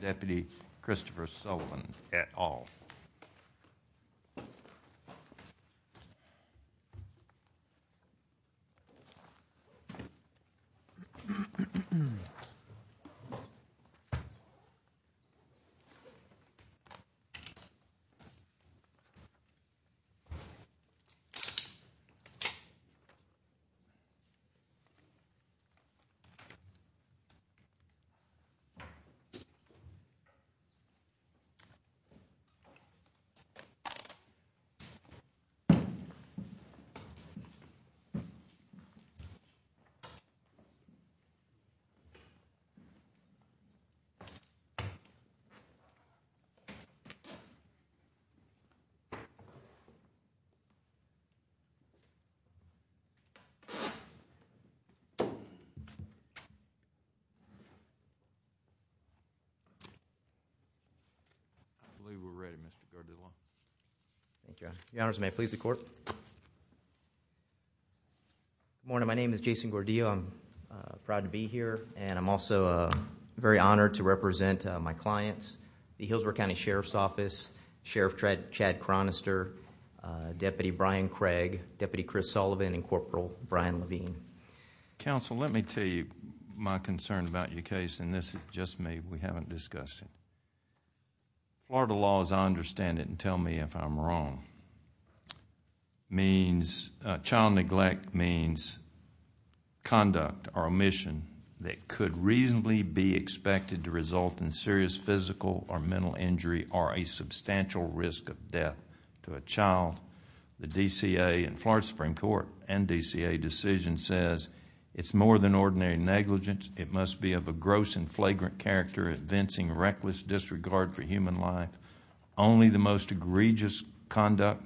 Deputy Christopher Sullivan, at all. I believe we're ready, Mr. Gordillo. Thank you. Your honors, may I please the court? Good morning. My name is Jason Gordillo. I'm proud to be here, and I'm also very honored to represent my clients, the Healdsburg County Sheriff's Office, Sheriff Chad Chronister, Deputy Brian Craig, Deputy Chris Sullivan, and Corporal Brian Levine. Counsel, let me tell you my concern about your case, and this is just me. We haven't discussed it. Florida law, as I understand it, and tell me if I'm wrong, means... child neglect means conduct or omission that could reasonably be expected to result in serious physical or mental injury or a substantial risk of death to a child. The DCA and Florida Supreme Court and DCA decision says it's more than ordinary negligence. It must be of a gross and flagrant character, evincing reckless disregard for human life. Only the most egregious conduct,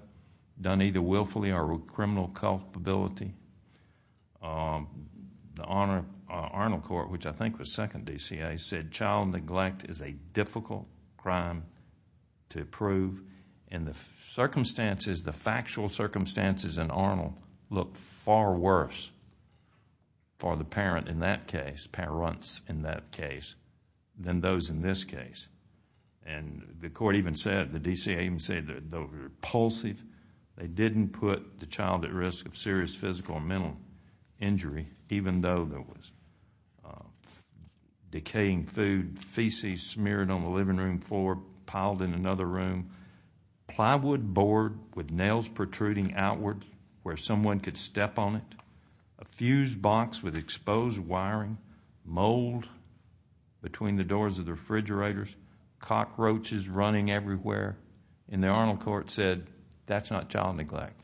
done either willfully or with criminal culpability, the Arnold Court, which I think was second DCA, said child neglect is a difficult crime to prove. In the circumstances, the factual circumstances in Arnold look far worse for the parent in that case, parents in that case, than those in this case. The court even said, the DCA even said they were repulsive. They didn't put the child at risk of serious physical or mental injury, even though there was decaying food, feces smeared on the living room floor, piled in another room, plywood board with nails protruding outward where someone could step on it, a fused box with exposed wiring, mold between the doors of the refrigerators, cockroaches running everywhere. And the Arnold Court said, that's not child neglect.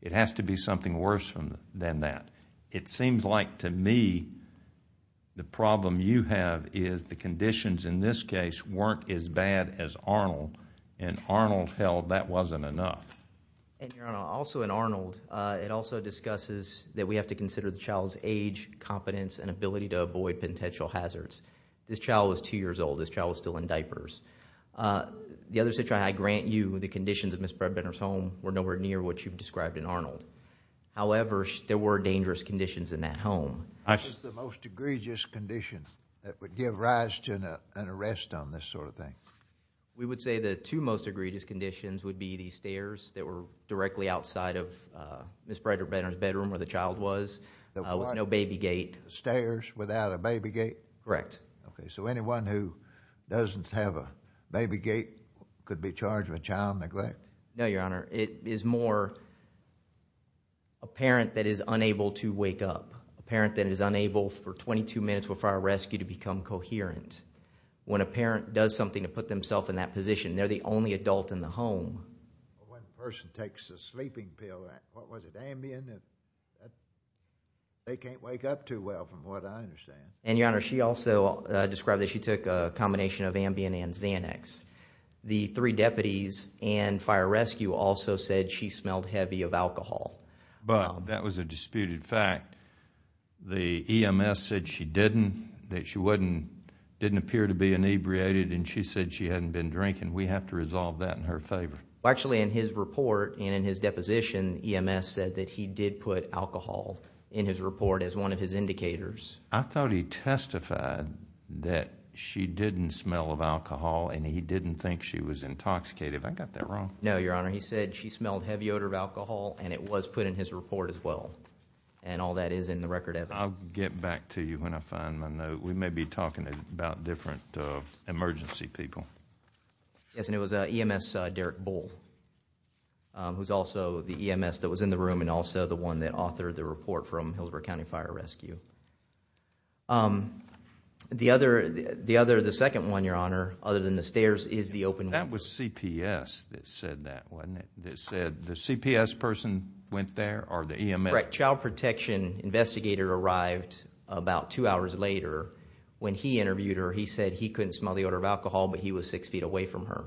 It has to be something worse than that. It seems like to me the problem you have is the conditions in this case weren't as bad as Arnold, and Arnold held that wasn't enough. Your Honor, also in Arnold, it also discusses that we have to consider the child's age, competence, and ability to avoid potential hazards. This child was two years old. This child was still in diapers. The other situation, I grant you the conditions of Ms. Bradbender's home were nowhere near what you've described in Arnold. However, there were dangerous conditions in that home. What was the most egregious condition that would give rise to an arrest on this sort of thing? We would say the two most egregious conditions would be the stairs that were directly outside of Ms. Bradbender's bedroom where the child was, with no baby gate. Stairs without a baby gate? Correct. Okay, so anyone who doesn't have a baby gate could be charged with child neglect? No, Your Honor. It is more a parent that is unable to wake up, a parent that is unable for 22 minutes before a rescue to become coherent. When a parent does something to put themselves in that position, they're the only adult in the home. When a person takes a sleeping pill, what was it, Ambien? They can't wake up too well from what I understand. And, Your Honor, she also described that she took a combination of Ambien and Xanax. The three deputies and fire rescue also said she smelled heavy of alcohol. But that was a disputed fact. The EMS said she didn't, that she didn't appear to be inebriated and she said she hadn't been drinking. We have to resolve that in her favor. Actually, in his report and in his deposition, EMS said that he did put alcohol in his report as one of his indicators. I thought he testified that she didn't smell of alcohol and he didn't think she was intoxicated. Have I got that wrong? No, Your Honor. He said she smelled heavy odor of alcohol and it was put in his report as well. And all that is in the record evidence. I'll get back to you when I find my note. We may be talking about different emergency people. Yes, and it was EMS Derek Bull, who's also the EMS that was in the room and also the one that authored the report from Hillsborough County Fire Rescue. The other, the second one, Your Honor, other than the stairs, is the open one. That was CPS that said that, wasn't it? That said the CPS person went there or the EMS? Correct. Child protection investigator arrived about two hours later. When he interviewed her, he said he couldn't smell the odor of alcohol, but he was six feet away from her.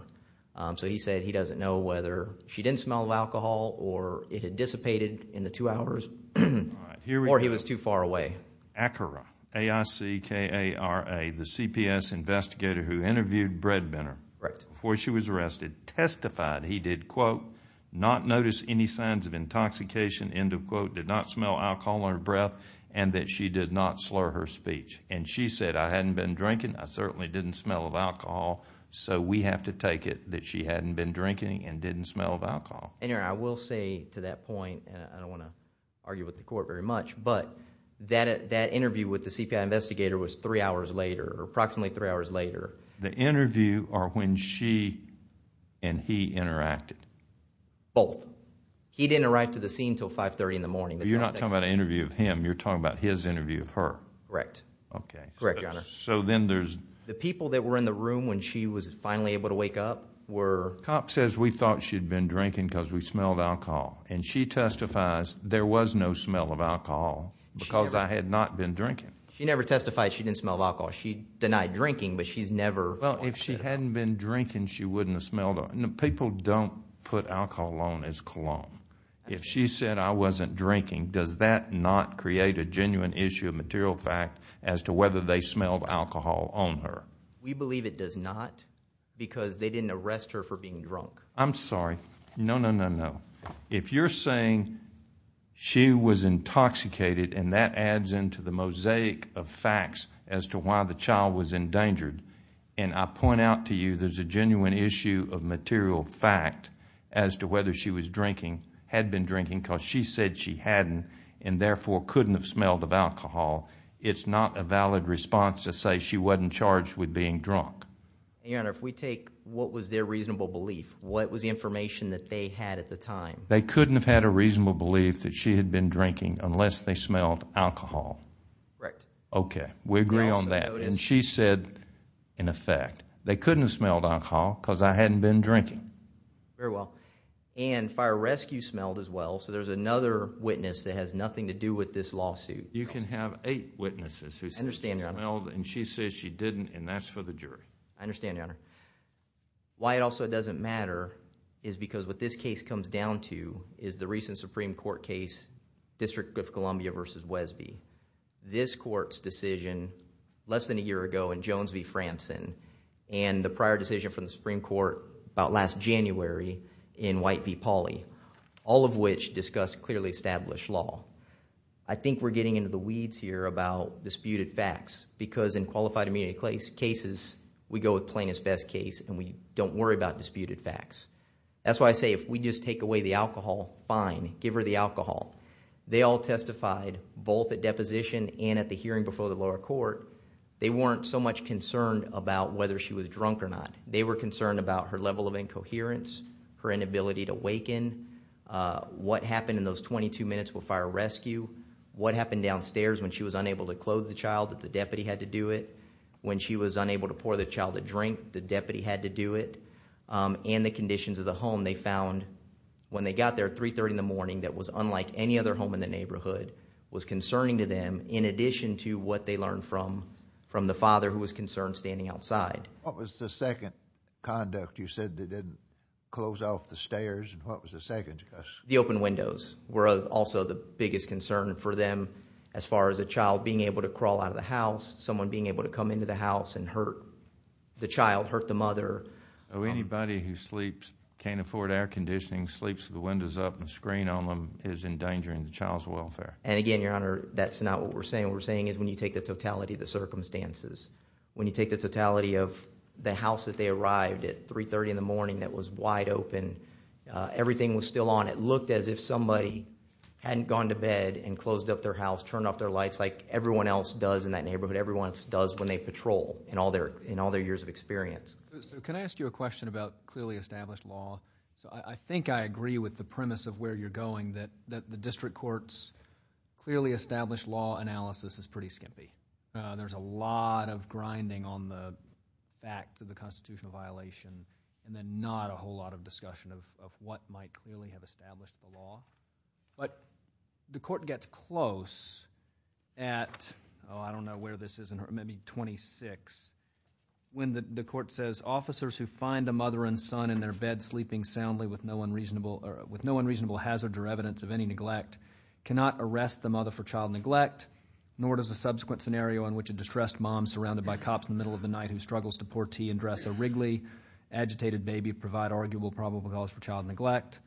So he said he doesn't know whether she didn't smell of alcohol or it had dissipated in the two hours or he was too far away. Acara, A-I-C-K-A-R-A, the CPS investigator who interviewed Breadbinner before she was there, did not notice any signs of intoxication, end of quote, did not smell alcohol on her breath, and that she did not slur her speech. She said, I hadn't been drinking, I certainly didn't smell of alcohol, so we have to take it that she hadn't been drinking and didn't smell of alcohol. I will say to that point, and I don't want to argue with the court very much, but that interview with the CPS investigator was three hours later, approximately three hours later. The interview or when she and he interacted? Both. He didn't arrive to the scene until 5.30 in the morning. You're not talking about an interview of him, you're talking about his interview of her. Correct. Okay. Correct, Your Honor. So then there's... The people that were in the room when she was finally able to wake up were... The cop says we thought she'd been drinking because we smelled alcohol, and she testifies there was no smell of alcohol because I had not been drinking. She never testified she didn't smell of alcohol. She denied drinking, but she's never... Well, if she hadn't been drinking, she wouldn't have smelled... People don't put alcohol on as cologne. If she said, I wasn't drinking, does that not create a genuine issue of material fact as to whether they smelled alcohol on her? We believe it does not because they didn't arrest her for being drunk. I'm sorry. No, no, no, no. If you're saying she was intoxicated, and that adds into the mosaic of facts as to why the child was endangered, and I point out to you there's a genuine issue of material fact as to whether she was drinking, had been drinking, because she said she hadn't and therefore couldn't have smelled of alcohol, it's not a valid response to say she wasn't charged with being drunk. Your Honor, if we take what was their reasonable belief, what was the information that they had at the time? They couldn't have had a reasonable belief that she had been drinking unless they smelled alcohol. Correct. Okay. We agree on that, and she said, in effect, they couldn't have smelled alcohol because I hadn't been drinking. Very well. And fire rescue smelled as well, so there's another witness that has nothing to do with this lawsuit. You can have eight witnesses who said she smelled, and she says she didn't, and that's for the jury. I understand, Your Honor. Why it also doesn't matter is because what this case comes down to is the recent Supreme Court case, District of Columbia v. Wesby. This court's decision less than a year ago in Jones v. Franson and the prior decision from the Supreme Court about last January in White v. Pauley, all of which discussed clearly established law. I think we're getting into the weeds here about disputed facts because in qualified immunity cases we go with plain as best case and we don't worry about disputed facts. That's why I say if we just take away the alcohol, fine, give her the alcohol. They all testified both at deposition and at the hearing before the lower court. They weren't so much concerned about whether she was drunk or not. They were concerned about her level of incoherence, her inability to waken, what happened in those 22 minutes with fire rescue, what happened downstairs when she was unable to clothe the child that the deputy had to do it, when she was unable to pour the child a drink, the deputy had to do it, and the conditions of the home. They found when they got there at 3.30 in the morning that was unlike any other home in the neighborhood, was concerning to them in addition to what they learned from the father who was concerned standing outside. What was the second conduct you said that didn't close off the stairs? What was the second? The open windows were also the biggest concern for them as far as a child being able to crawl out of the house, someone being able to come into the house and hurt the child, hurt the mother. Anybody who sleeps, can't afford air conditioning, sleeps with the windows up and the screen on them is endangering the child's welfare. Again, Your Honor, that's not what we're saying. What we're saying is when you take the totality of the circumstances, when you take the totality of the house that they arrived at 3.30 in the morning that was wide open, everything was still on. It looked as if somebody hadn't gone to bed and closed up their house, turned off their lights like everyone else does in that neighborhood, everyone else does when they patrol in all their years of experience. Can I ask you a question about clearly established law? I think I agree with the premise of where you're going that the district court's clearly established law analysis is pretty skimpy. There's a lot of grinding on the facts of the constitutional violation and then not a whole lot of discussion of what might clearly have established the law. But the court gets close at, I don't know where this is, maybe 26, when the court says, Officers who find a mother and son in their bed sleeping soundly with no unreasonable hazard or evidence of any neglect cannot arrest the mother for child neglect, nor does a subsequent scenario in which a distressed mom surrounded by cops in the middle of the night who struggles to pour tea and dress a wriggly, agitated baby provide arguable probable cause for child neglect.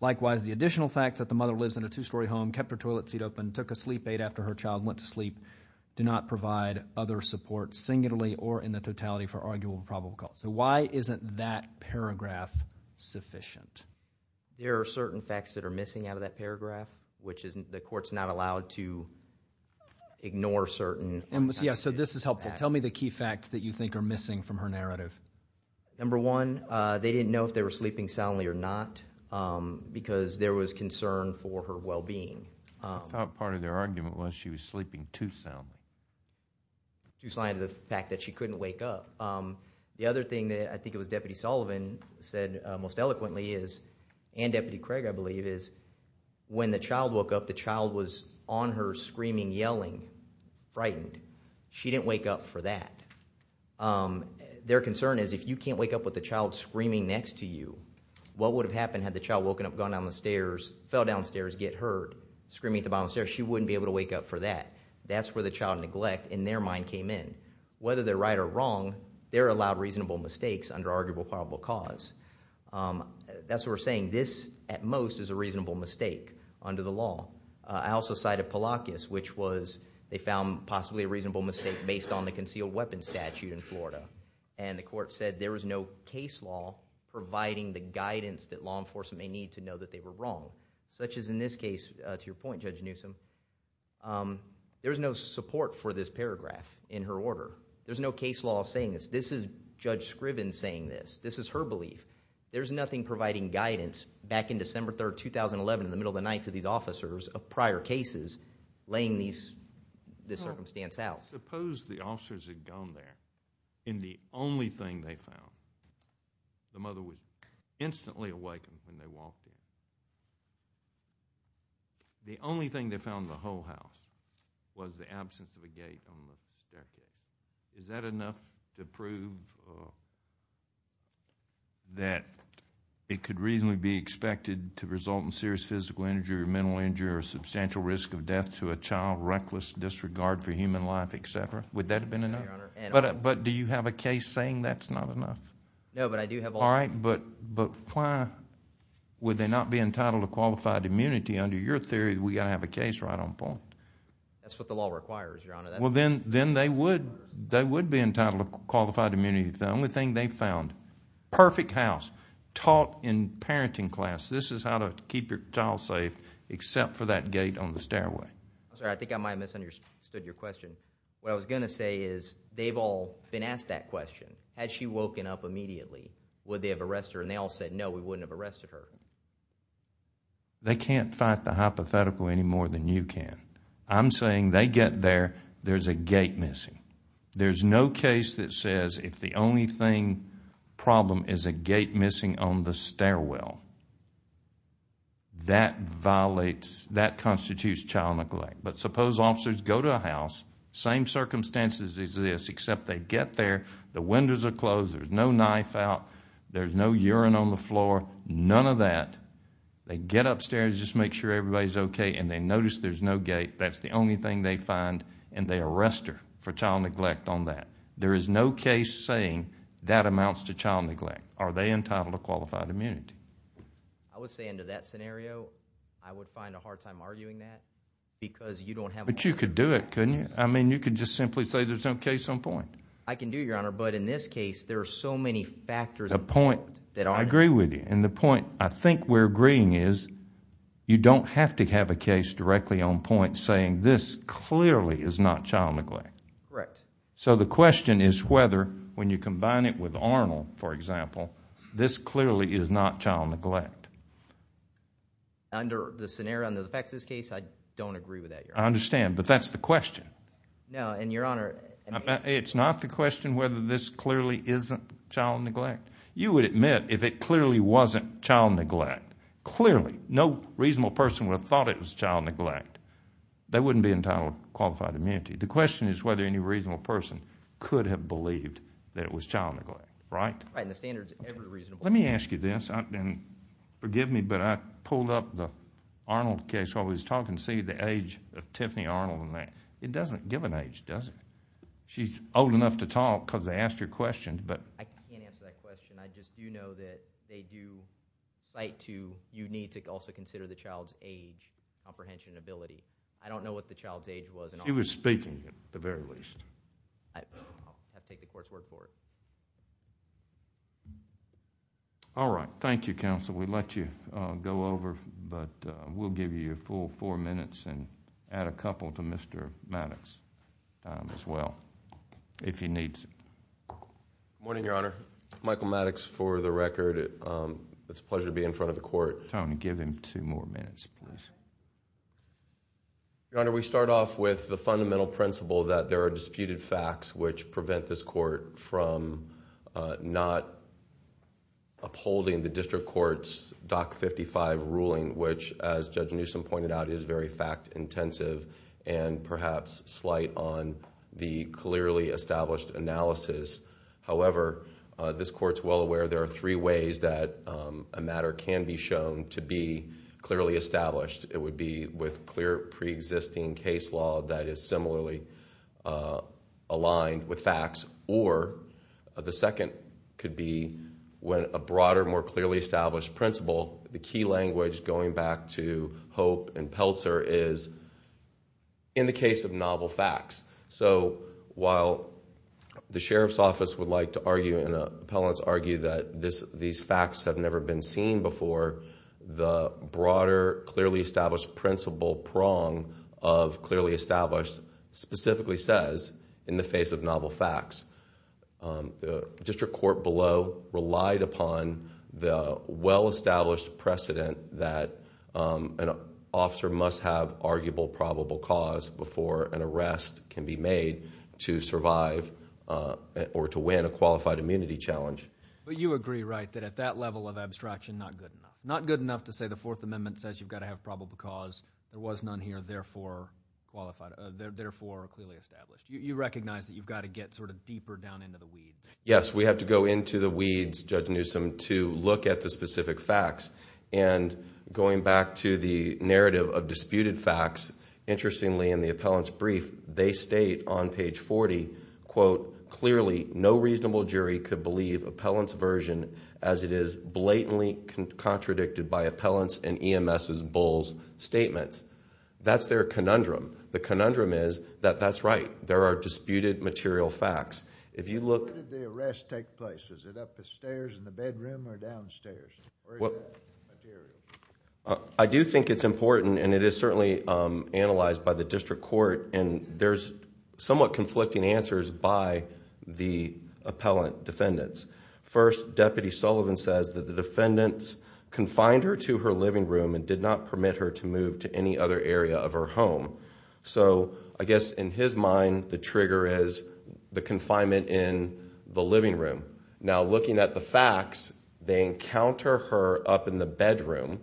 Likewise, the additional fact that the mother lives in a two-story home, kept her toilet seat open, took a sleep aid after her child went to sleep, do not provide other support singularly or in the totality for arguable probable cause. So why isn't that paragraph sufficient? There are certain facts that are missing out of that paragraph, which is the court's not allowed to ignore certain facts. Yeah, so this is helpful. Tell me the key facts that you think are missing from her narrative. Number one, they didn't know if they were sleeping soundly or not because there was concern for her well-being. I thought part of their argument was she was sleeping too soundly. Too soundly to the fact that she couldn't wake up. The other thing that I think it was Deputy Sullivan said most eloquently is, and Deputy Craig, I believe, is when the child woke up, the child was on her screaming, yelling, frightened. She didn't wake up for that. Their concern is if you can't wake up with the child screaming next to you, what would have happened had the child woken up, gone down the stairs, fell downstairs, get hurt, screaming at the bottom of the stairs? She wouldn't be able to wake up for that. That's where the child neglect in their mind came in. Whether they're right or wrong, they're allowed reasonable mistakes under arguable probable cause. That's what we're saying. This, at most, is a reasonable mistake under the law. I also cited Pelakis, which was they found possibly a reasonable mistake based on the concealed weapons statute in Florida. The court said there was no case law providing the guidance that law enforcement may need to know that they were wrong, such as in this case, to your point, Judge Newsom. There was no support for this paragraph in her order. There's no case law saying this. This is Judge Scriven saying this. This is her belief. There's nothing providing guidance back in December 3, 2011, in the middle of the night, to these officers of prior cases, laying this circumstance out. Suppose the officers had gone there, and the only thing they found, the mother was instantly awakened when they walked in. The only thing they found in the whole house was the absence of a gate on the staircase. Is that enough to prove that it could reasonably be expected to result in serious physical injury or mental injury or a substantial risk of death to a child, reckless disregard for human life, et cetera? Would that have been enough? But do you have a case saying that's not enough? No, but I do have a law. All right, but why would they not be entitled to qualified immunity? Under your theory, we've got to have a case right on point. That's what the law requires, Your Honor. Well, then they would be entitled to qualified immunity. It's the only thing they found. Perfect house, taught in parenting class. This is how to keep your child safe, except for that gate on the stairway. I'm sorry, I think I might have misunderstood your question. What I was going to say is they've all been asked that question. Had she woken up immediately, would they have arrested her? And they all said, no, we wouldn't have arrested her. They can't fight the hypothetical any more than you can. I'm saying they get there, there's a gate missing. There's no case that says if the only problem is a gate missing on the stairwell, that constitutes child neglect. But suppose officers go to a house, same circumstances as this, except they get there, the windows are closed, there's no knife out, there's no urine on the floor, none of that. They get upstairs, just make sure everybody's okay, and they notice there's no gate, that's the only thing they find, and they arrest her for child neglect on that. There is no case saying that amounts to child neglect. Are they entitled to qualified immunity? I would say under that scenario, I would find a hard time arguing that because you don't have a lot of facts. But you could do it, couldn't you? I mean, you could just simply say there's no case on point. I can do, Your Honor, but in this case, there are so many factors on point. I agree with you. And the point I think we're agreeing is you don't have to have a case directly on point saying this clearly is not child neglect. Correct. So the question is whether when you combine it with Arnold, for example, this clearly is not child neglect. Under the scenario, under the facts of this case, I don't agree with that, Your Honor. I understand, but that's the question. No, and Your Honor. It's not the question whether this clearly isn't child neglect. You would admit if it clearly wasn't child neglect. Clearly. No reasonable person would have thought it was child neglect. They wouldn't be entitled to qualified immunity. The question is whether any reasonable person could have believed that it was child neglect, right? Right, and the standards are very reasonable. Let me ask you this, and forgive me, but I pulled up the Arnold case while we were talking to see the age of Tiffany Arnold and that. It doesn't give an age, does it? She's old enough to talk because they asked her questions, but... I can't answer that question. I just do know that they do cite to you need to also consider the child's age, comprehension, and ability. I don't know what the child's age was. She was speaking, at the very least. I'll take the court's word for it. All right. Thank you, counsel. We'll let you go over, but we'll give you your full four minutes and add a couple to Mr. Maddox's time as well if he needs it. Good morning, Your Honor. Michael Maddox for the record. It's a pleasure to be in front of the court. Tony, give him two more minutes, please. Your Honor, we start off with the fundamental principle that there are disputed facts which prevent this court from not upholding the district court's Doc 55 ruling which, as Judge Newsom pointed out, is very fact intensive and perhaps slight on the clearly established analysis. However, this court's well aware there are three ways that a matter can be shown to be clearly established. It would be with clear preexisting case law that is similarly aligned with facts, or the second could be when a broader, more clearly established principle, the key language going back to Hope and Peltzer is in the case of novel facts. While the Sheriff's Office would like to argue and appellants argue that these facts have never been seen before, the broader, clearly established principle prong of clearly established specifically says in the face of novel that an officer must have arguable probable cause before an arrest can be made to survive or to win a qualified immunity challenge. But you agree, right, that at that level of abstraction, not good enough. Not good enough to say the Fourth Amendment says you've got to have probable cause, there was none here, therefore clearly established. You recognize that you've got to get sort of deeper down into the weeds. Yes, we have to go into the weeds, Judge Newsom, to look at the specific facts. And going back to the narrative of disputed facts, interestingly in the appellant's brief, they state on page 40, quote, clearly no reasonable jury could believe appellant's version as it is blatantly contradicted by appellant's and EMS's bull's statements. That's their conundrum. The conundrum is that that's right, there are disputed material facts. If you look... Where did the arrest take place? Is it up the stairs in the bedroom or downstairs? I do think it's important and it is certainly analyzed by the district court. There's somewhat conflicting answers by the appellant defendants. First, Deputy Sullivan says that the defendants confined her to her living room and did not permit her to move to any other area of her home. So I guess in his mind the trigger is the confinement in the living room. Now looking at the facts, they encounter her up in the bedroom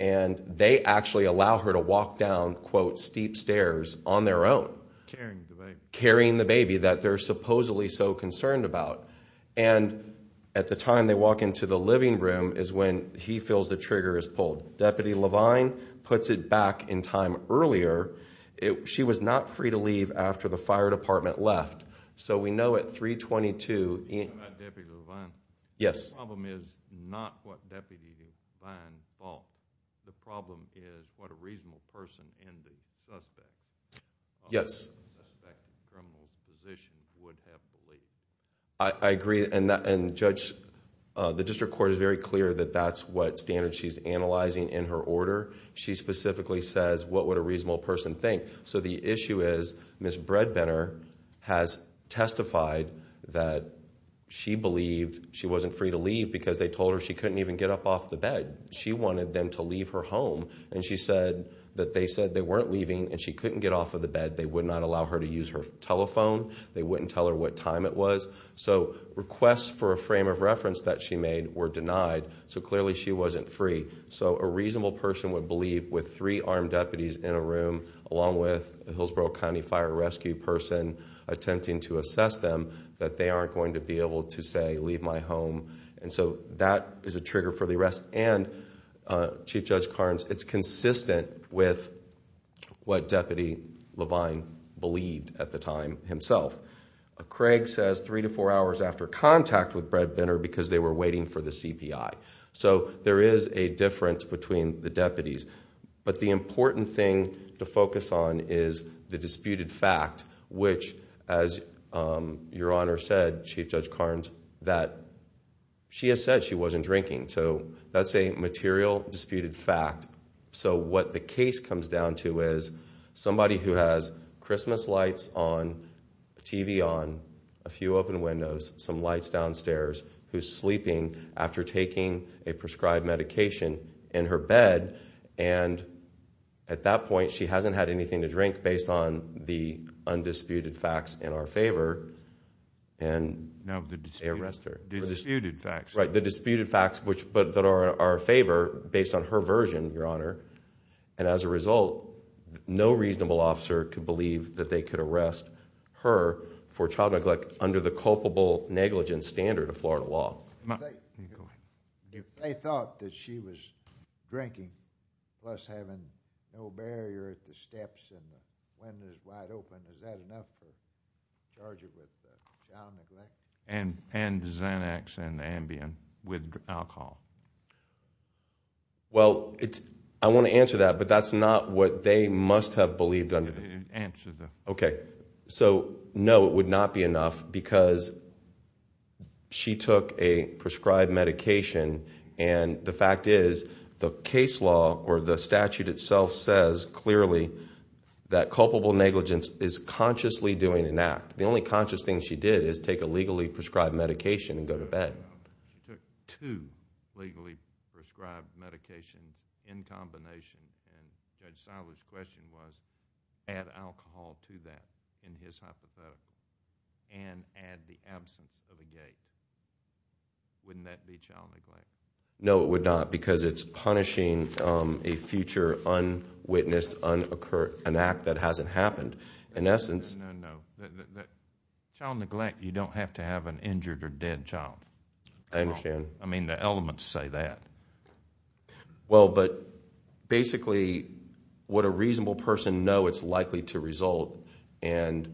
and they actually allow her to walk down, quote, steep stairs on their own. Carrying the baby. Carrying the baby that they're supposedly so concerned about. And at the time they walk into the living room is when he feels the trigger is pulled. Deputy Levine puts it back in time earlier. She was not free to leave after the fire department left. So we know at 322... Deputy Levine. Yes. The problem is not what Deputy Levine thought. The problem is what a reasonable person in the suspect... Yes.... suspect's criminal position would have believed. I agree. Judge, the district court is very clear that that's what standards she's analyzing in her order. She specifically says what would a reasonable person think. So the issue is Ms. Bredbender has testified that she believed she wasn't free to leave because they told her she couldn't even get up off the bed. She wanted them to leave her home and she said that they said they weren't leaving and she couldn't get off of the bed. They would not allow her to use her telephone. They wouldn't tell her what time it was. So requests for a frame of reference that she made were denied. So clearly she wasn't free. So a reasonable person would believe with three armed deputies in a room, along with a Hillsborough County fire rescue person attempting to assess them, that they aren't going to be able to say, leave my home. And so that is a trigger for the arrest. And Chief Judge Carnes, it's consistent with what Deputy Levine believed at the time himself. Craig says three to four hours after contact with Bredbender because they were waiting for the CPI. So there is a difference between the deputies. But the important thing to focus on is the disputed fact, which as Your Honor said, Chief Judge Carnes, that she has said she wasn't drinking. So that's a material disputed fact. So what the case comes down to is somebody who has Christmas lights on, TV on, a few open windows, some lights downstairs, who's sleeping after taking a prescribed medication in her bed, and at that point she hasn't had anything to drink based on the undisputed facts in our favor. And they arrest her. Disputed facts. Right, the disputed facts that are in our favor based on her version, Your Honor. And as a result, no reasonable officer could believe that they could arrest her for child neglect under the culpable negligence standard of Florida law. They thought that she was drinking plus having no barrier at the steps and the windows wide open. Is that enough to charge her with child neglect? And Xanax and Ambien with alcohol? Well, I want to answer that, but that's not what they must have believed under the statute. Answer that. Okay. So, no, it would not be enough because she took a prescribed medication, and the fact is the case law or the statute itself says clearly that culpable negligence is consciously doing an act. The only conscious thing she did is take a legally prescribed medication and go to bed. She took two legally prescribed medications in combination, and Judge Silber's question was add alcohol to that in his hypothetical, and add the absence of a gate. Wouldn't that be child neglect? No, it would not because it's punishing a future unwitnessed, unoccurred, an act that hasn't happened. No, no, no, no. Child neglect, you don't have to have an injured or dead child. I understand. I mean, the elements say that. Well, but basically, would a reasonable person know it's likely to result? And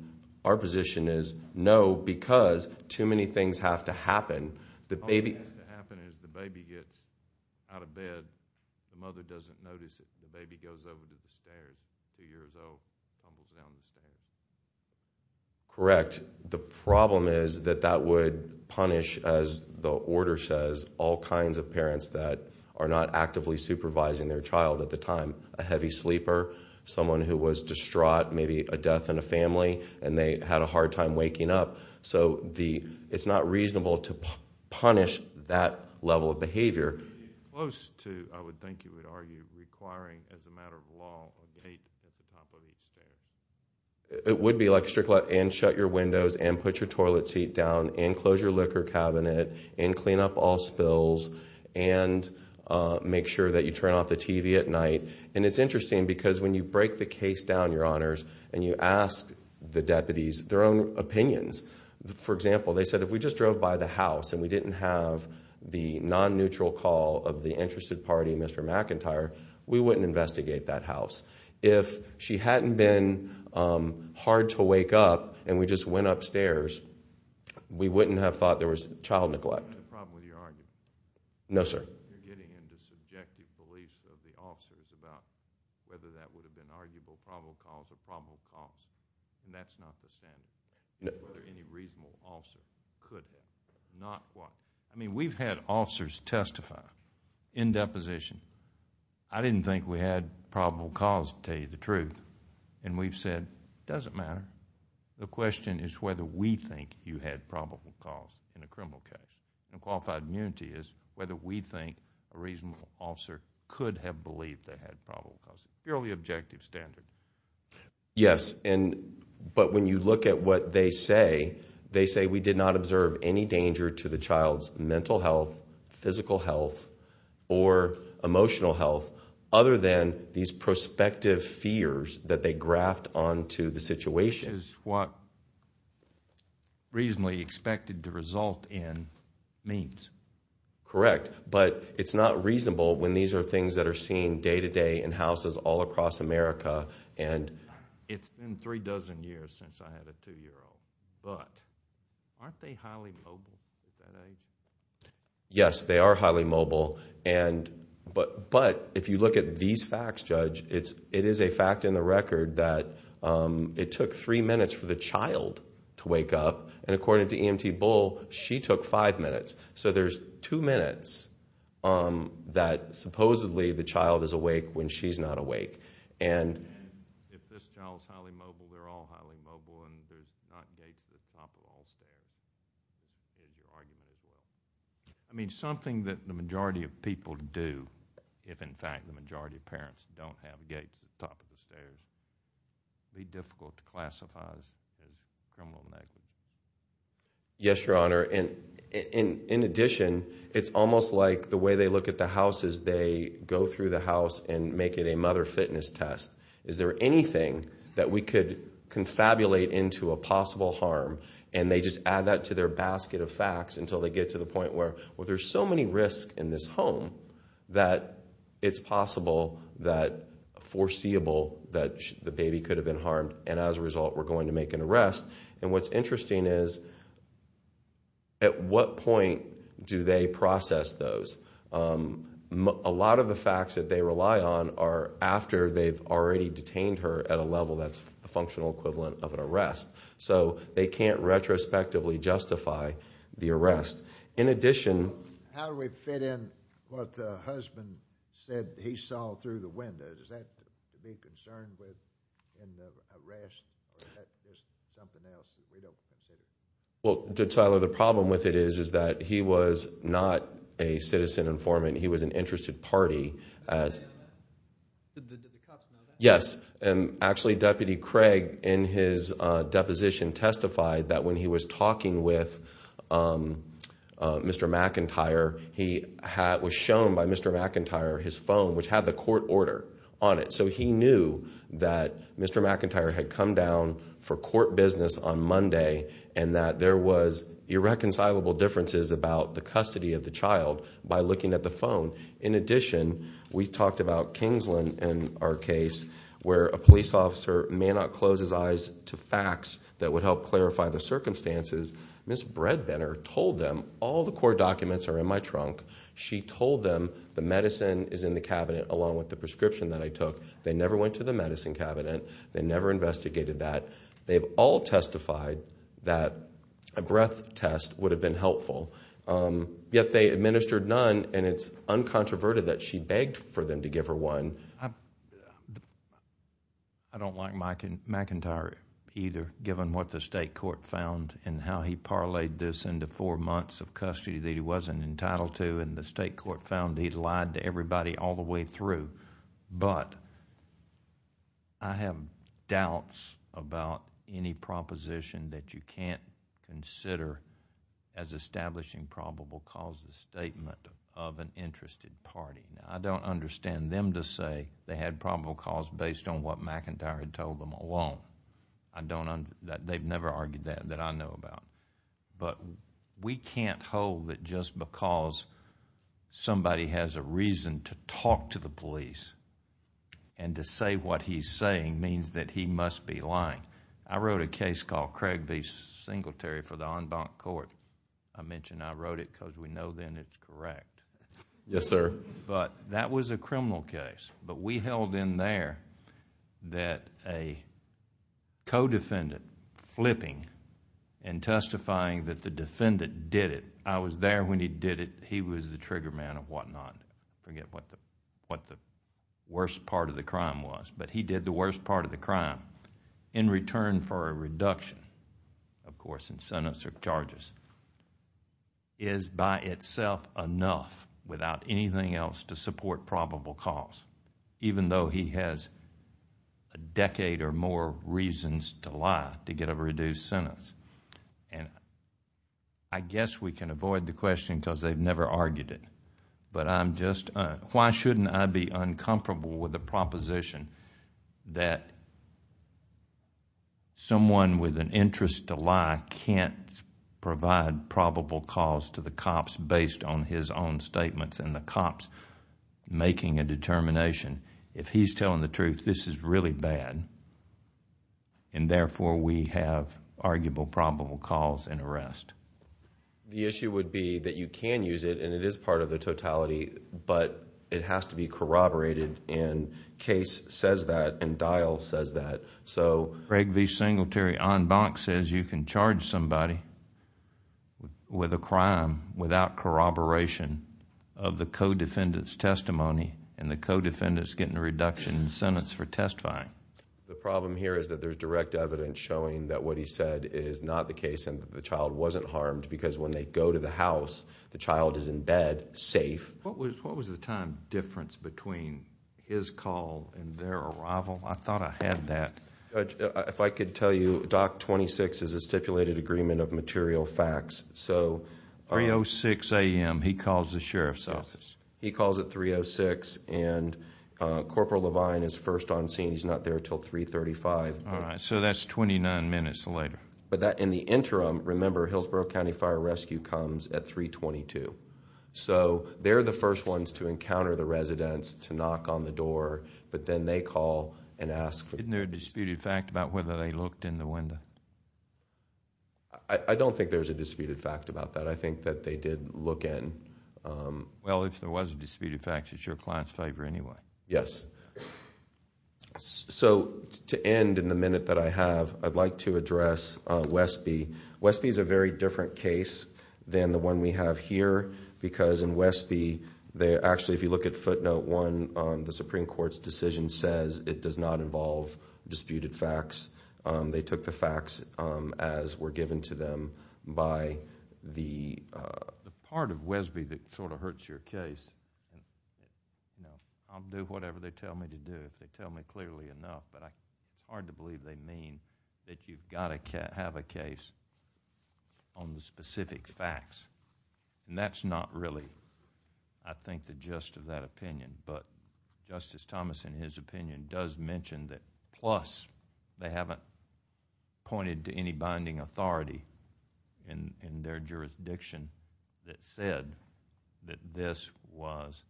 our position is no because too many things have to happen. All that has to happen is the baby gets out of bed, the mother doesn't notice it, the baby goes over the stairs, two years old, tumbles down the stairs. Correct. The problem is that that would punish, as the order says, all kinds of parents that are not actively supervising their child at the time, a heavy sleeper, someone who was distraught, maybe a death in a family, and they had a hard time waking up. So it's not reasonable to punish that level of behavior. Would it be close to, I would think you would argue, requiring as a matter of law a date at the top of the stairs? It would be like a strict law, and shut your windows, and put your toilet seat down, and close your liquor cabinet, and clean up all spills, and make sure that you turn off the TV at night. And it's interesting because when you break the case down, Your Honors, and you ask the deputies their own opinions. For example, they said if we just drove by the house and we didn't have the non-neutral call of the interested party, Mr. McIntyre, we wouldn't investigate that house. If she hadn't been hard to wake up and we just went upstairs, we wouldn't have thought there was child neglect. Is that the problem with your argument? No, sir. You're getting into subjective beliefs of the officers about whether that would have been an arguable probable cause or probable cause, and that's not the standard. Whether any reasonable officer could have not qualified. I mean we've had officers testify in deposition. I didn't think we had probable cause to tell you the truth, and we've said it doesn't matter. The question is whether we think you had probable cause in a criminal case. And qualified immunity is whether we think a reasonable officer could have believed they had probable cause. Purely objective standard. Yes, but when you look at what they say, they say we did not observe any danger to the child's mental health, physical health, or emotional health other than these prospective fears that they graphed onto the situation. Which is what reasonably expected to result in means. Correct, but it's not reasonable when these are things that are seen day-to-day in houses all across America. It's been three dozen years since I had a two-year-old, but aren't they highly mobile? Yes, they are highly mobile. But if you look at these facts, Judge, it is a fact in the record that it took three minutes for the child to wake up, and according to EMT Bull, she took five minutes. So there's two minutes that supposedly the child is awake when she's not awake. And if this child's highly mobile, they're all highly mobile, and there's not gates at the top of all stairs. I mean, something that the majority of people do, if in fact the majority of parents don't have gates at the top of the stairs, would be difficult to classify as criminal negligence. Yes, Your Honor. In addition, it's almost like the way they look at the house is they go through the house and make it a mother fitness test. Is there anything that we could confabulate into a possible harm? And they just add that to their basket of facts until they get to the point where, well, there's so many risks in this home that it's possible that foreseeable that the baby could have been harmed, and as a result we're going to make an arrest. And what's interesting is at what point do they process those? A lot of the facts that they rely on are after they've already detained her at a level that's a functional equivalent of an arrest. So they can't retrospectively justify the arrest. In addition— How do we fit in what the husband said he saw through the window? Is that to be concerned with in the arrest? Or is that just something else that they don't consider? Well, Tyler, the problem with it is that he was not a citizen informant. He was an interested party. Did the cops know that? Yes. Actually, Deputy Craig in his deposition testified that when he was talking with Mr. McIntyre, he was shown by Mr. McIntyre his phone, which had the court order on it. So he knew that Mr. McIntyre had come down for court business on Monday and that there was irreconcilable differences about the custody of the child by looking at the phone. In addition, we talked about Kingsland in our case, where a police officer may not close his eyes to facts that would help clarify the circumstances. Ms. Bredbender told them, all the court documents are in my trunk. She told them the medicine is in the cabinet along with the prescription that I took. They never went to the medicine cabinet. They never investigated that. They've all testified that a breath test would have been helpful. Yet they administered none, and it's uncontroverted that she begged for them to give her one. I don't like McIntyre either, given what the state court found and how he parlayed this into four months of custody that he wasn't entitled to, and the state court found he lied to everybody all the way through. But I have doubts about any proposition that you can't consider as establishing probable cause, the statement of an interested party. I don't understand them to say they had probable cause based on what McIntyre had told them alone. They've never argued that that I know about. But we can't hold that just because somebody has a reason to talk to the police and to say what he's saying means that he must be lying. I wrote a case called Craig v. Singletary for the en banc court. I mentioned I wrote it because we know then it's correct. Yes, sir. But that was a criminal case. But we held in there that a co-defendant flipping and testifying that the defendant did it. I was there when he did it. He was the trigger man and whatnot. I forget what the worst part of the crime was, but he did the worst part of the crime in return for a reduction, of course, in sentence or charges, is by itself enough without anything else to support probable cause, even though he has a decade or more reasons to lie to get a reduced sentence. I guess we can avoid the question because they've never argued it. But I'm just, why shouldn't I be uncomfortable with the proposition that someone with an interest to lie can't provide probable cause to the cops based on his own statements and the cops making a determination. If he's telling the truth, this is really bad, and therefore we have arguable probable cause and arrest. The issue would be that you can use it, and it is part of the totality, but it has to be corroborated, and case says that, and dial says that. Craig V. Singletary on box says you can charge somebody with a crime without corroboration of the co-defendant's testimony and the co-defendant's getting a reduction in sentence for testifying. The problem here is that there's direct evidence showing that what he said is not the case and the child wasn't harmed because when they go to the house, the child is in bed safe. What was the time difference between his call and their arrival? I thought I had that. If I could tell you, Doc 26 is a stipulated agreement of material facts. 3.06 a.m., he calls the sheriff's office. He calls at 3.06, and Corporal Levine is first on scene. He's not there until 3.35. All right, so that's 29 minutes later. In the interim, remember, Hillsborough County Fire Rescue comes at 3.22. They're the first ones to encounter the residents, to knock on the door, but then they call and ask. Isn't there a disputed fact about whether they looked in the window? I don't think there's a disputed fact about that. I think that they did look in. Well, if there was a disputed fact, it's your client's favor anyway. Yes. To end in the minute that I have, I'd like to address Wesby. Wesby is a very different case than the one we have here, because in Wesby, actually if you look at footnote one, the Supreme Court's decision says it does not involve disputed facts. They took the facts as were given to them by the... The part of Wesby that sort of hurts your case. I'll do whatever they tell me to do if they tell me clearly enough, but it's hard to believe they mean that you've got to have a case on the specific facts. And that's not really, I think, the gist of that opinion. But Justice Thomas, in his opinion, does mention that, plus, they haven't pointed to any binding authority in their jurisdiction that said that this was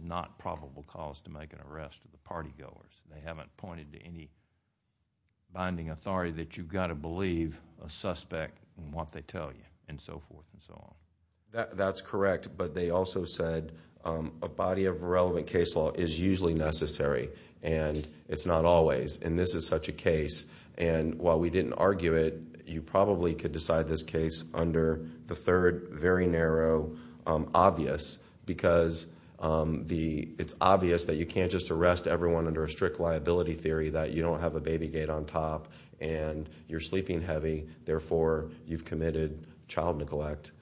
not probable cause to make an arrest to the party goers. They haven't pointed to any binding authority that you've got to believe a suspect in what they tell you and so forth and so on. That's correct, but they also said a body of relevant case law is usually necessary, and it's not always, and this is such a case. And while we didn't argue it, you probably could decide this case under the third very narrow obvious because it's obvious that you can't just arrest everyone under a strict liability theory that you don't have a baby gate on top and you're sleeping heavy, therefore you've committed child neglect.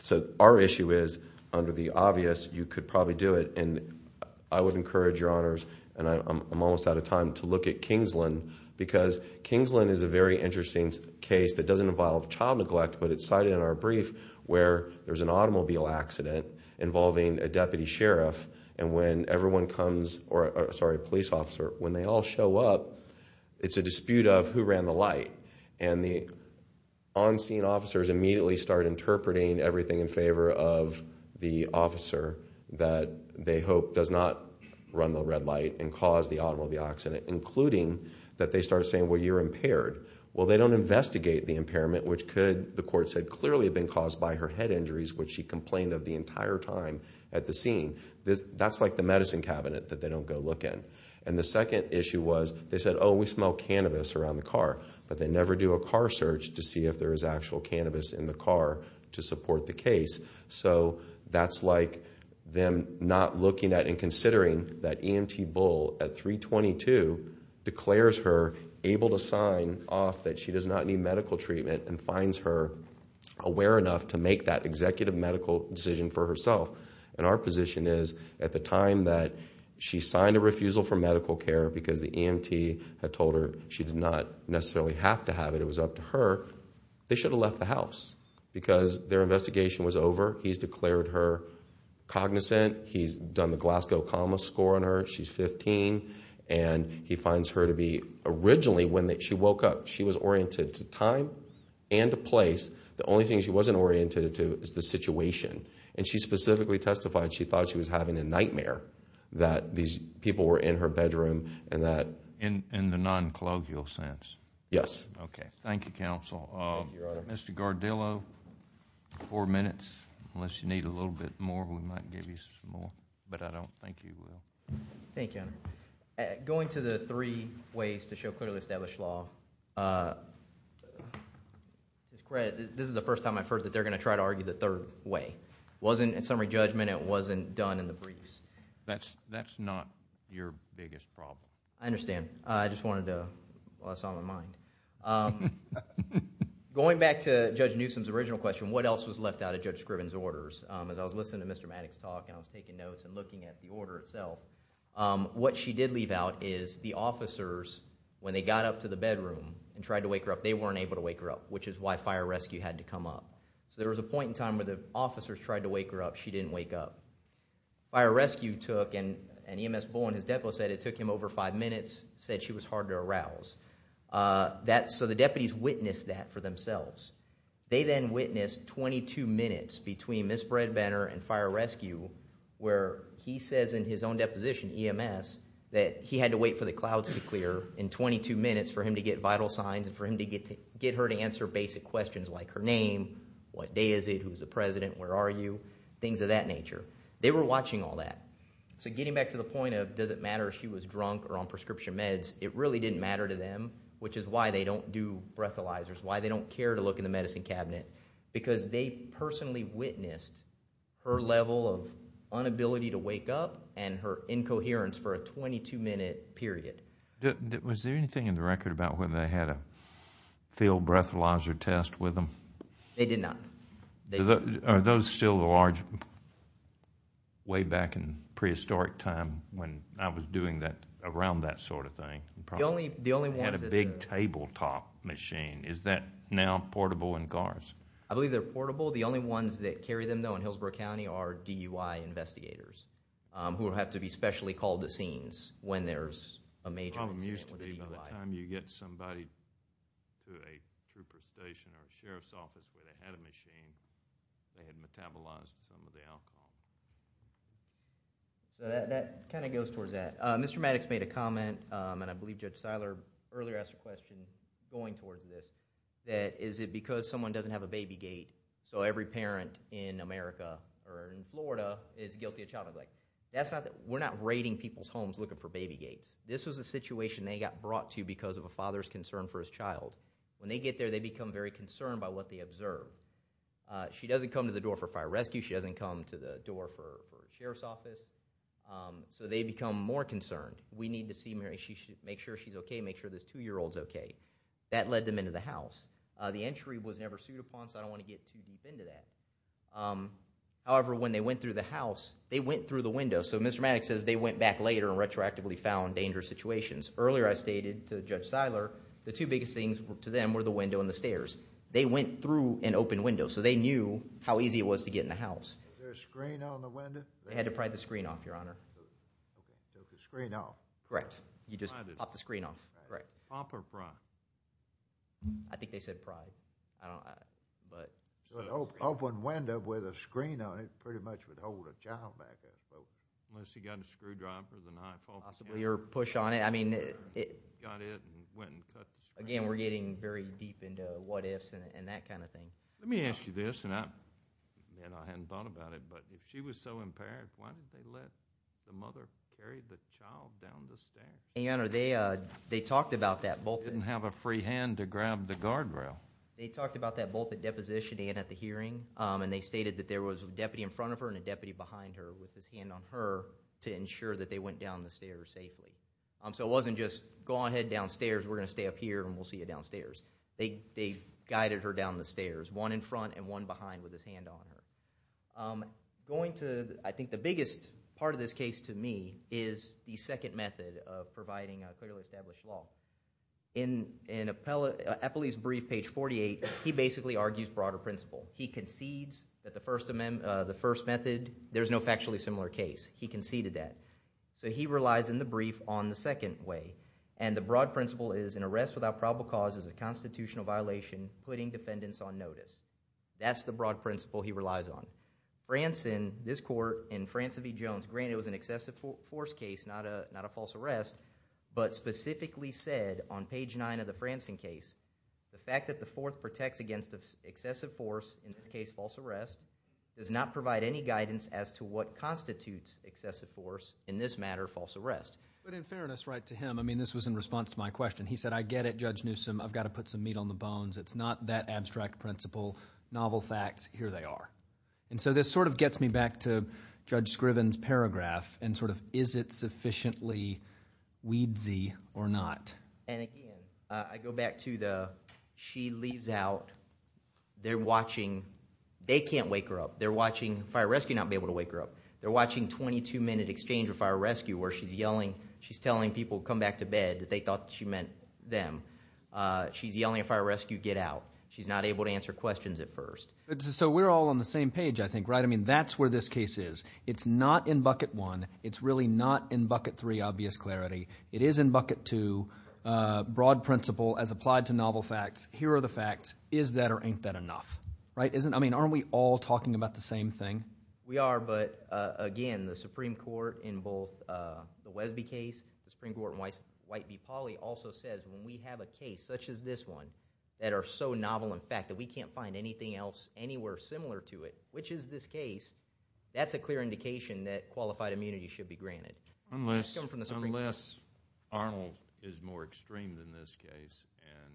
So our issue is under the obvious you could probably do it, and I would encourage your honors, and I'm almost out of time, to look at Kingsland because Kingsland is a very interesting case that doesn't involve child neglect, but it's cited in our brief where there's an automobile accident involving a police officer. When they all show up, it's a dispute of who ran the light, and the on-scene officers immediately start interpreting everything in favor of the officer that they hope does not run the red light and cause the automobile accident, including that they start saying, well, you're impaired. Well, they don't investigate the impairment, which could, the court said, clearly have been caused by her head injuries, which she complained of the entire time at the scene. That's like the medicine cabinet that they don't go look in. And the second issue was they said, oh, we smell cannabis around the car, but they never do a car search to see if there is actual cannabis in the car to support the case. So that's like them not looking at and considering that EMT Bull at 322 declares her able to sign off that she does not need medical treatment and finds her aware enough to make that executive medical decision for herself. And our position is at the time that she signed a refusal for medical care because the EMT had told her she did not necessarily have to have it, it was up to her, they should have left the house because their investigation was over. He's declared her cognizant. He's done the Glasgow comma score on her. She's 15, and he finds her to be, originally when she woke up, she was oriented to time and to place. The only thing she wasn't oriented to is the situation. And she specifically testified she thought she was having a nightmare that these people were in her bedroom and that... In the non-colloquial sense. Yes. Okay. Thank you, counsel. Mr. Gardillo, four minutes, unless you need a little bit more. We might give you some more, but I don't think you will. Thank you, Your Honor. Going to the three ways to show clearly established law, this is the first time I've heard that they're going to try to argue the third way. It wasn't in summary judgment, it wasn't done in the briefs. That's not your biggest problem. I understand. I just wanted to... Well, that's on my mind. Going back to Judge Newsom's original question, what else was left out of Judge Scriven's orders? As I was listening to Mr. Maddox talk and I was taking notes and looking at the order itself, what she did leave out is the officers, when they got up to the bedroom and tried to wake her up, they weren't able to wake her up, which is why fire rescue had to come up. So there was a point in time where the officers tried to wake her up, she didn't wake up. Fire rescue took, and EMS Bull and his depo said it took him over five minutes, said she was hard to arouse. So the deputies witnessed that for themselves. They then witnessed 22 minutes between Ms. Breadbanner and fire rescue where he says in his own deposition, EMS, that he had to wait for the clouds to clear in 22 minutes for him to get vital signs and for him to get her to answer basic questions like her name, what day is it, who's the president, where are you, things of that nature. They were watching all that. So getting back to the point of does it matter if she was drunk or on prescription meds, it really didn't matter to them, which is why they don't do breathalyzers, why they don't care to look in the medicine cabinet, because they personally witnessed her level of inability to wake up and her incoherence for a 22-minute period. Was there anything in the record about whether they had a field breathalyzer test with them? They did not. Are those still the large way back in prehistoric time when I was doing that around that sort of thing? The only ones that had a big tabletop machine, is that now portable in cars? I believe they're portable. The only ones that carry them, though, in Hillsborough County are DUI investigators who have to be specially called to scenes when there's a major incident with a DUI. The problem used to be by the time you get somebody to a trooper station or a sheriff's office where they had a machine, they had metabolized some of the alcohol. That kind of goes towards that. Mr. Maddox made a comment, and I believe Judge Seiler earlier asked a question going towards this, that is it because someone doesn't have a baby gate, so every parent in America or in Florida is guilty of child neglect? We're not raiding people's homes looking for baby gates. This was a situation they got brought to because of a father's concern for his child. When they get there, they become very concerned by what they observe. She doesn't come to the door for fire rescue. She doesn't come to the door for sheriff's office. So they become more concerned. We need to see Mary. Make sure she's okay. Make sure this two-year-old's okay. That led them into the house. The entry was never sued upon, so I don't want to get too deep into that. However, when they went through the house, they went through the window. So Mr. Maddox says they went back later and retroactively found dangerous situations. Earlier I stated to Judge Seiler the two biggest things to them were the window and the stairs. They went through an open window, so they knew how easy it was to get in the house. Was there a screen on the window? They had to pry the screen off, Your Honor. Take the screen off? Correct. You just pop the screen off. Right. Pop or pry? I think they said pry. An open window with a screen on it pretty much would hold a child back there, unless you got a screwdriver and an iPhone. Possibly, or push on it. Got it and went and touched it. Again, we're getting very deep into what-ifs and that kind of thing. Let me ask you this, and I hadn't thought about it, but if she was so impaired, why did they let the mother carry the child down the stairs? Your Honor, they talked about that. Didn't have a free hand to grab the guardrail. They talked about that both at deposition and at the hearing, and they stated that there was a deputy in front of her and a deputy behind her with his hand on her to ensure that they went down the stairs safely. So it wasn't just go ahead downstairs, we're going to stay up here, and we'll see you downstairs. They guided her down the stairs, one in front and one behind with his hand on her. I think the biggest part of this case to me is the second method of providing clearly established law. In Eppley's brief, page 48, he basically argues broader principle. He concedes that the first method, there's no factually similar case. He conceded that. So he relies in the brief on the second way, and the broad principle is an arrest without probable cause is a constitutional violation, putting defendants on notice. That's the broad principle he relies on. Franson, this court, in Franson v. Jones, granted it was an excessive force case, not a false arrest, but specifically said on page 9 of the Franson case, the fact that the fourth protects against excessive force, in this case false arrest, does not provide any guidance as to what constitutes excessive force, in this matter false arrest. But in fairness, right, to him, I mean this was in response to my question. He said, I get it, Judge Newsom, I've got to put some meat on the bones. It's not that abstract principle, novel facts, here they are. And so this sort of gets me back to Judge Scriven's paragraph and sort of is it sufficiently weedsy or not. And again, I go back to the she leaves out, they're watching, they can't wake her up. They're watching fire rescue not be able to wake her up. They're watching 22-minute exchange of fire rescue where she's yelling, she's telling people to come back to bed that they thought she meant them. She's yelling at fire rescue, get out. She's not able to answer questions at first. So we're all on the same page, I think, right? I mean that's where this case is. It's not in bucket 1. It's really not in bucket 3, obvious clarity. It is in bucket 2, broad principle as applied to novel facts. Here are the facts. Is that or ain't that enough, right? I mean aren't we all talking about the same thing? We are, but again, the Supreme Court in both the Wesby case, the Supreme Court in White v. Pauley also says when we have a case such as this one that are so novel in fact that we can't find anything else anywhere similar to it, which is this case, that's a clear indication that qualified immunity should be granted. Unless Arnold is more extreme than this case and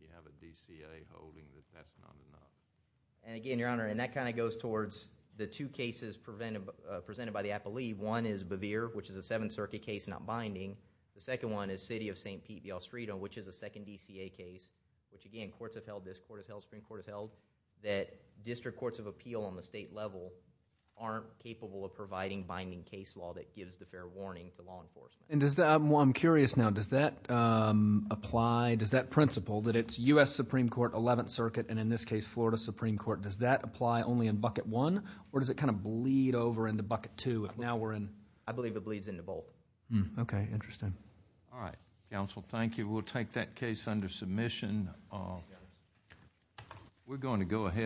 we have a DCA holding that that's not enough. And again, Your Honor, and that kind of goes towards the two cases presented by the appellee. One is Bevere, which is a Seventh Circuit case, not binding. The second one is City of St. Pete v. Ostrito, which is a second DCA case, which again courts have held this, court has held, Supreme Court has held, that district courts of appeal on the state level aren't capable of providing binding case law that gives the fair warning to law enforcement. And I'm curious now, does that apply, does that principle, that it's U.S. Supreme Court, Eleventh Circuit, and in this case Florida Supreme Court, does that apply only in bucket one or does it kind of bleed over into bucket two? I believe it bleeds into both. Okay, interesting. All right, counsel, thank you. We'll take that case under submission. We're going to go ahead.